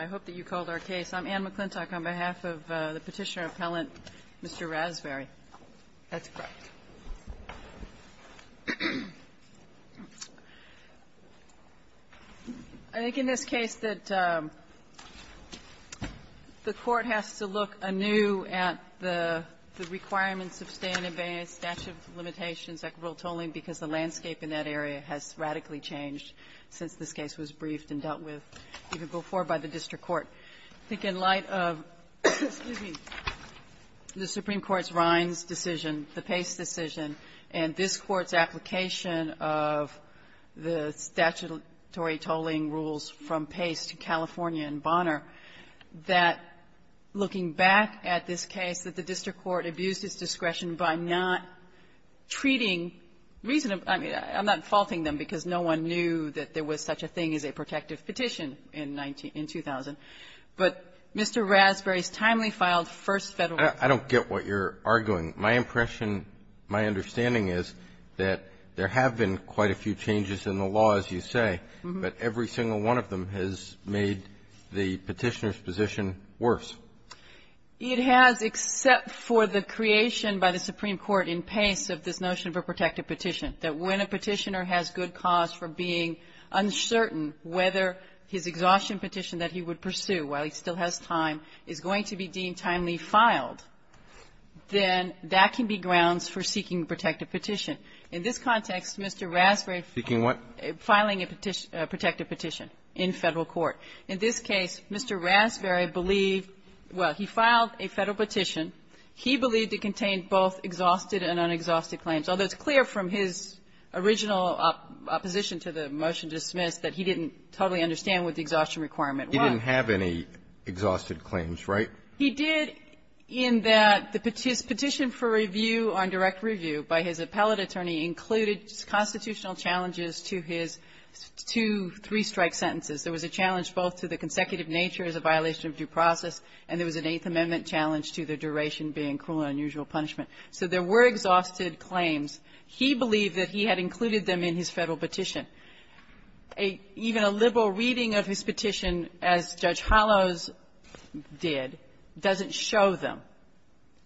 I hope that you called our case. I'm Anne McClintock on behalf of the Petitioner appellant, Mr. Raspberry. That's correct. I think in this case that the Court has to look anew at the requirements of staying in Bayne's statute of limitations, equitable tolling, because the landscape in that area has radically changed since this case was briefed and dealt with even before by the district court. I think in light of the Supreme Court's Rinds decision, the Pace decision, and this Court's application of the statutory tolling rules from Pace to California and Bonner, that looking back at this case, that the district I'm not faulting them, because no one knew that there was such a thing as a protective petition in 2000, but Mr. Raspberry's timely-filed first Federal rule. I don't get what you're arguing. My impression, my understanding is that there have been quite a few changes in the law, as you say, but every single one of them has made the Petitioner's position worse. It has, except for the creation by the Supreme Court in Pace of this notion of a protected petition, that when a Petitioner has good cause for being uncertain whether his exhaustion petition that he would pursue while he still has time is going to be deemed timely-filed, then that can be grounds for seeking a protective petition. In this context, Mr. Raspberry finding a protective petition in Federal court. In this case, Mr. Raspberry believed, well, he filed a Federal petition. He believed it contained both exhausted and unexhausted claims, although it's clear from his original opposition to the motion dismissed that he didn't totally understand what the exhaustion requirement was. He didn't have any exhausted claims, right? He did in that the petition for review on direct review by his appellate attorney included constitutional challenges to his two three-strike sentences. There was a challenge both to the consecutive nature as a violation of due process, and there was an Eighth Amendment challenge to the duration being cruel and unusual punishment. So there were exhausted claims. He believed that he had included them in his Federal petition. Even a liberal reading of his petition, as Judge Hollows did, doesn't show them.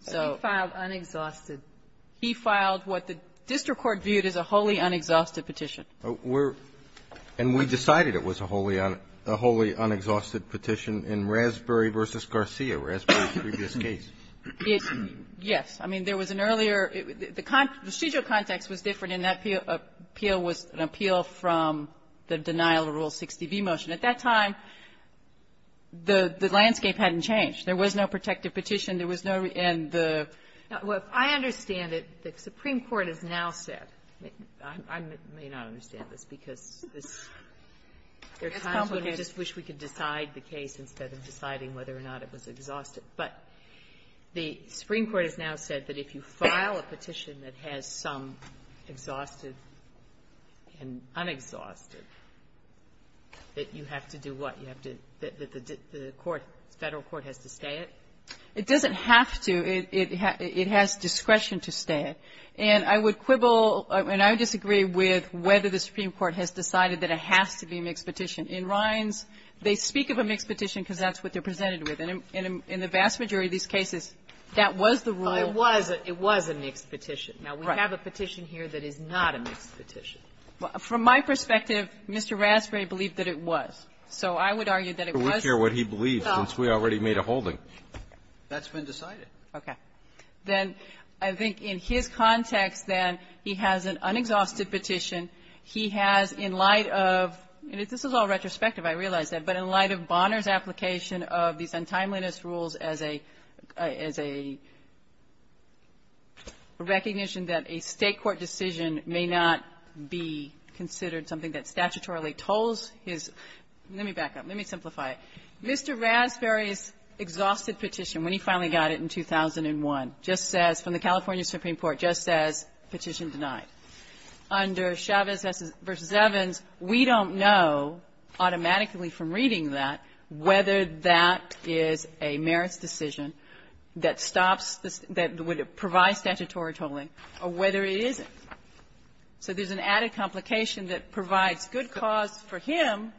So he filed what the district court viewed as a wholly unexhausted petition. And we decided it was a wholly unexhausted petition in Raspberry v. Garcia, Raspberry's previous case. Yes. I mean, there was an earlier the residual context was different, and that appeal was an appeal from the denial of Rule 60b motion. At that time, the landscape hadn't changed. There was no protective petition. There was no and the ---- Sotomayor, so I understand that the Supreme Court has now said ---- I may not understand this because there are times when I just wish we could decide the case instead of deciding whether or not it was exhausted. But the Supreme Court has now said that if you file a petition that has some exhausted and unexhausted, that you have to do what? You have to ---- the court, the Federal court has to stay it? It doesn't have to. It has discretion to stay it. And I would quibble, and I would disagree with whether the Supreme Court has decided that it has to be a mixed petition. In Rines, they speak of a mixed petition because that's what they're presented with. And in the vast majority of these cases, that was the rule. It was a mixed petition. Now, we have a petition here that is not a mixed petition. From my perspective, Mr. Raspberry believed that it was. So I would argue that it was. I don't care what he believes since we already made a holding. That's been decided. Okay. Then I think in his context, then, he has an unexhausted petition. He has, in light of ---- and this is all retrospective, I realize that. But in light of Bonner's application of these untimeliness rules as a ---- as a recognition that a State court decision may not be considered something that statutorily tolls his ---- Let me back up. Let me simplify it. Mr. Raspberry's exhausted petition, when he finally got it in 2001, just says, from the California Supreme Court, just says, Petition Denied. Under Chavez v. Evans, we don't know automatically from reading that whether that is a merits decision that stops the ---- that would provide statutory tolling or whether it isn't. So there's an added complication that provides good cause for him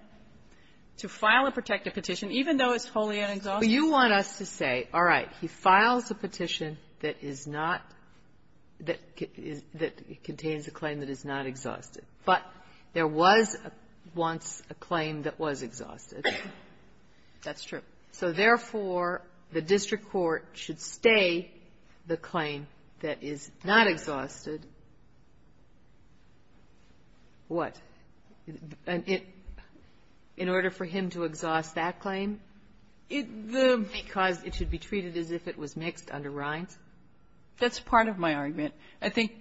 to file a protective petition, even though it's wholly unexhausted. But you want us to say, all right, he files a petition that is not ---- that contains a claim that is not exhausted. But there was once a claim that was exhausted. That's true. So, therefore, the district court should stay the claim that is not exhausted what? In order for him to exhaust that claim? Because it should be treated as if it was mixed under Rines? That's part of my argument. I think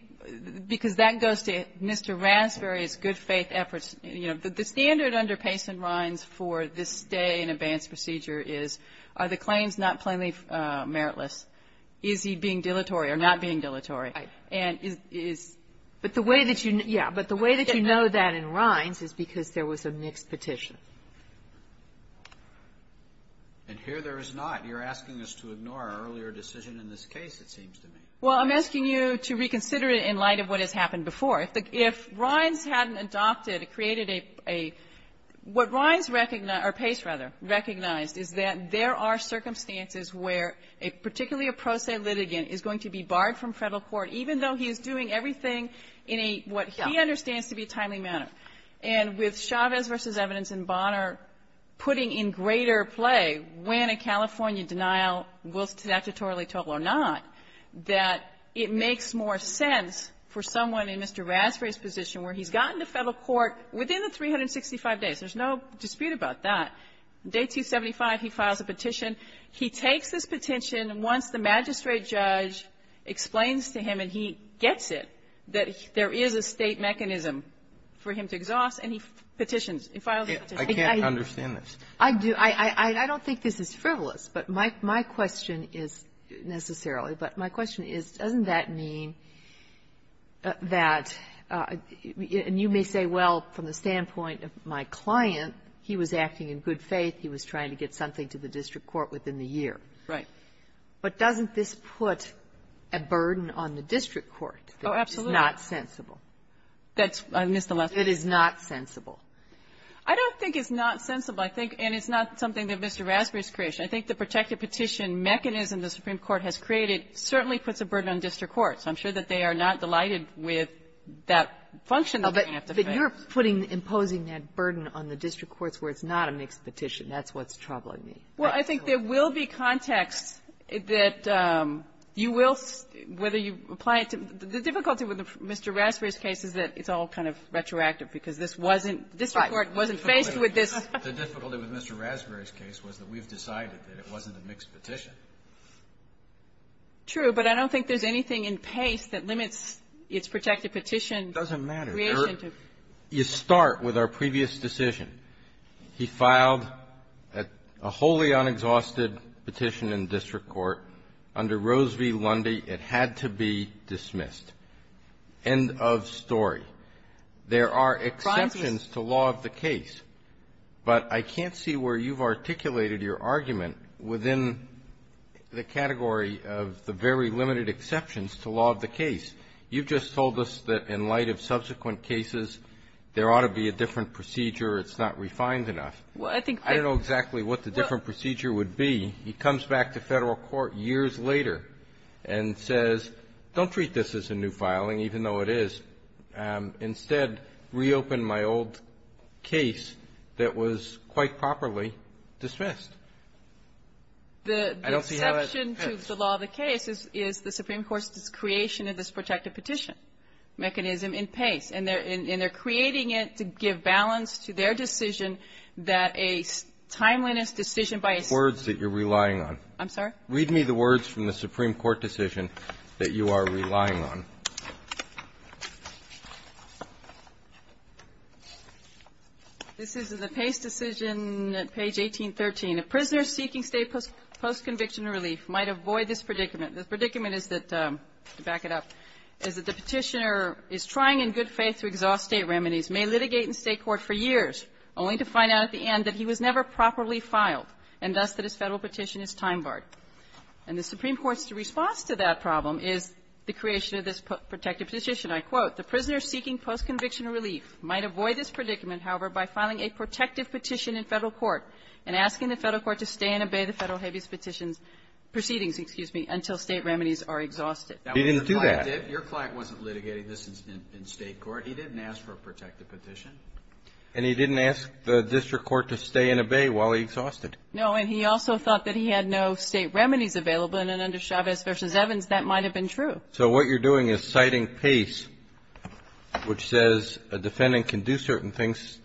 because that goes to Mr. Raspberry's good-faith efforts. You know, the standard under Pace and Rines for this stay-in-advance procedure is, are the claims not plainly meritless? Is he being dilatory or not being dilatory? And is ---- But the way that you know that in Rines is because there was a mixed petition. And here there is not. You're asking us to ignore our earlier decision in this case, it seems to me. Well, I'm asking you to reconsider it in light of what has happened before. If Rines hadn't adopted, created a ---- what Rines recognized or Pace, rather, recognized is that there are circumstances where a particularly a pro se litigant is going to be barred from federal court, even though he is doing everything in a what he understands to be a timely manner. And with Chavez v. Evidence and Bonner putting in greater play when a California denial will statutorily total or not, that it makes more sense for someone in Mr. Raspberry's position where he's gotten to federal court within the 365 days. There's no dispute about that. Day 275, he files a petition. He takes this petition. And once the magistrate judge explains to him and he gets it that there is a State mechanism for him to exhaust, and he petitions. He files a petition. I can't understand this. I do. I don't think this is frivolous. But my question is necessarily, but my question is, doesn't that mean that you may say, well, from the standpoint of my client, he was acting in good faith. He was trying to get something to the district court within the year. Right. But doesn't this put a burden on the district court that is not sensible? That's the last one. It is not sensible. I don't think it's not sensible. I think and it's not something that Mr. Raspberry's creation. I think the protected petition mechanism the Supreme Court has created certainly puts a burden on district courts. I'm sure that they are not delighted with that function that we have today. But you're putting, imposing that burden on the district courts where it's not a mixed petition. That's what's troubling me. Well, I think there will be context that you will, whether you apply it to the difficulty with Mr. Raspberry's case is that it's all kind of retroactive because this wasn't the district court wasn't faced with this. The difficulty with Mr. Raspberry's case was that we've decided that it wasn't a mixed petition. True. But I don't think there's anything in Pace that limits its protected petition creation to It doesn't matter. You start with our previous decision. He filed a wholly unexhausted petition in district court under Rose v. Lundy. It had to be dismissed. End of story. There are exceptions to law of the case. But I can't see where you've articulated your argument within the category of the very limited exceptions to law of the case. You've just told us that in light of subsequent cases, there ought to be a different procedure. It's not refined enough. I don't know exactly what the different procedure would be. He comes back to Federal court years later and says, don't treat this as a new filing, even though it is. Instead, reopen my old case that was quite properly dismissed. I don't see how that's the case. The case is the Supreme Court's creation of this protected petition mechanism in Pace, and they're creating it to give balance to their decision that a timeliness decision by a Supreme Court decision that you are relying on. Read me the words from the Supreme Court decision that you are relying on. This is the Pace decision, page 1813. The predicament is that, to back it up, is that the Petitioner is trying in good faith to exhaust State remedies, may litigate in State court for years, only to find out at the end that he was never properly filed, and thus that his Federal petition is time-barred. And the Supreme Court's response to that problem is the creation of this protected petition. I quote, He didn't do that. Your client wasn't litigating this in State court. He didn't ask for a protected petition. And he didn't ask the district court to stay and obey while he exhausted. No. And he also thought that he had no State remedies available. And under Chavez v. Evans, that might have been true. So what you're doing is citing Pace, which says a defendant can do certain things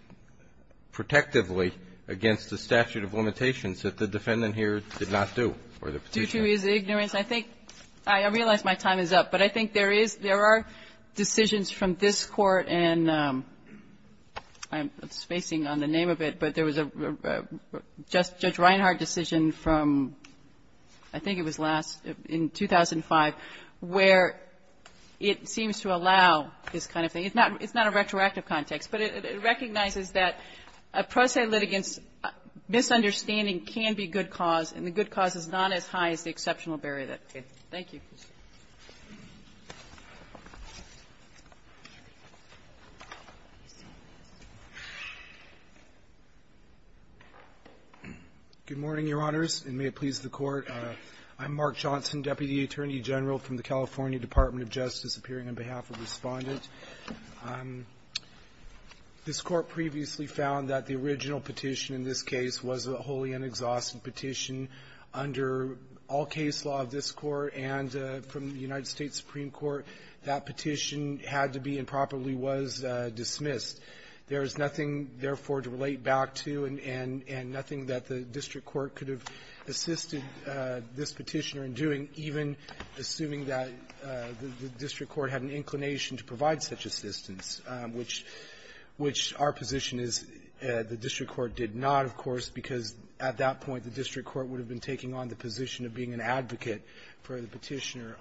protectively against the statute of limitations that the defendant here did not do, or the Petitioner. Due to his ignorance, I think my time is up. But I think there is there are decisions from this Court and I'm spacing on the name of it, but there was a Judge Reinhart decision from I think it was last, in 2005, where it seems to allow this kind of thing. It's not a retroactive context, but it recognizes that a pro se litigant's misunderstanding can be good cause, and the good cause is not as high as the exceptional barrier that it creates. Thank you. Good morning, Your Honors, and may it please the Court. I'm Mark Johnson, Deputy Attorney General from the California Department of Justice, appearing on behalf of Respondent. This Court previously found that the original petition in this case was a wholly inexhaustive petition under all case law of this Court, and from the United States Supreme Court, that petition had to be and probably was dismissed. There is nothing, therefore, to relate back to, and nothing that the district court could have assisted this Petitioner in doing, even assuming that the district court had an inclination to provide such assistance, which our position is the district court did not, of course, because at that point, the district court would have been taking on the position of being an advocate for the Petitioner.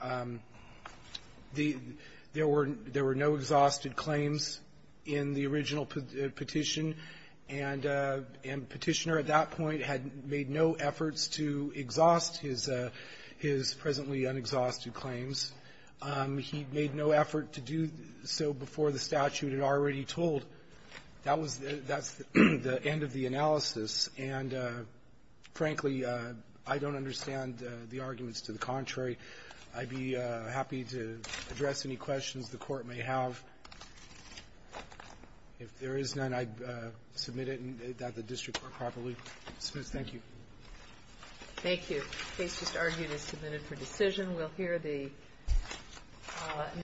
There were no exhausted claims in the original petition, and Petitioner at that point had made no efforts to exhaust his presently unexhausted claims. He made no effort to do so before the statute had already told. That was the end of the analysis. And, frankly, I don't understand the arguments to the contrary. I'd be happy to address any questions the Court may have. If there is none, I submit it that the district court properly. Smith, thank you. Thank you. Case just argued is submitted for decision. We'll hear the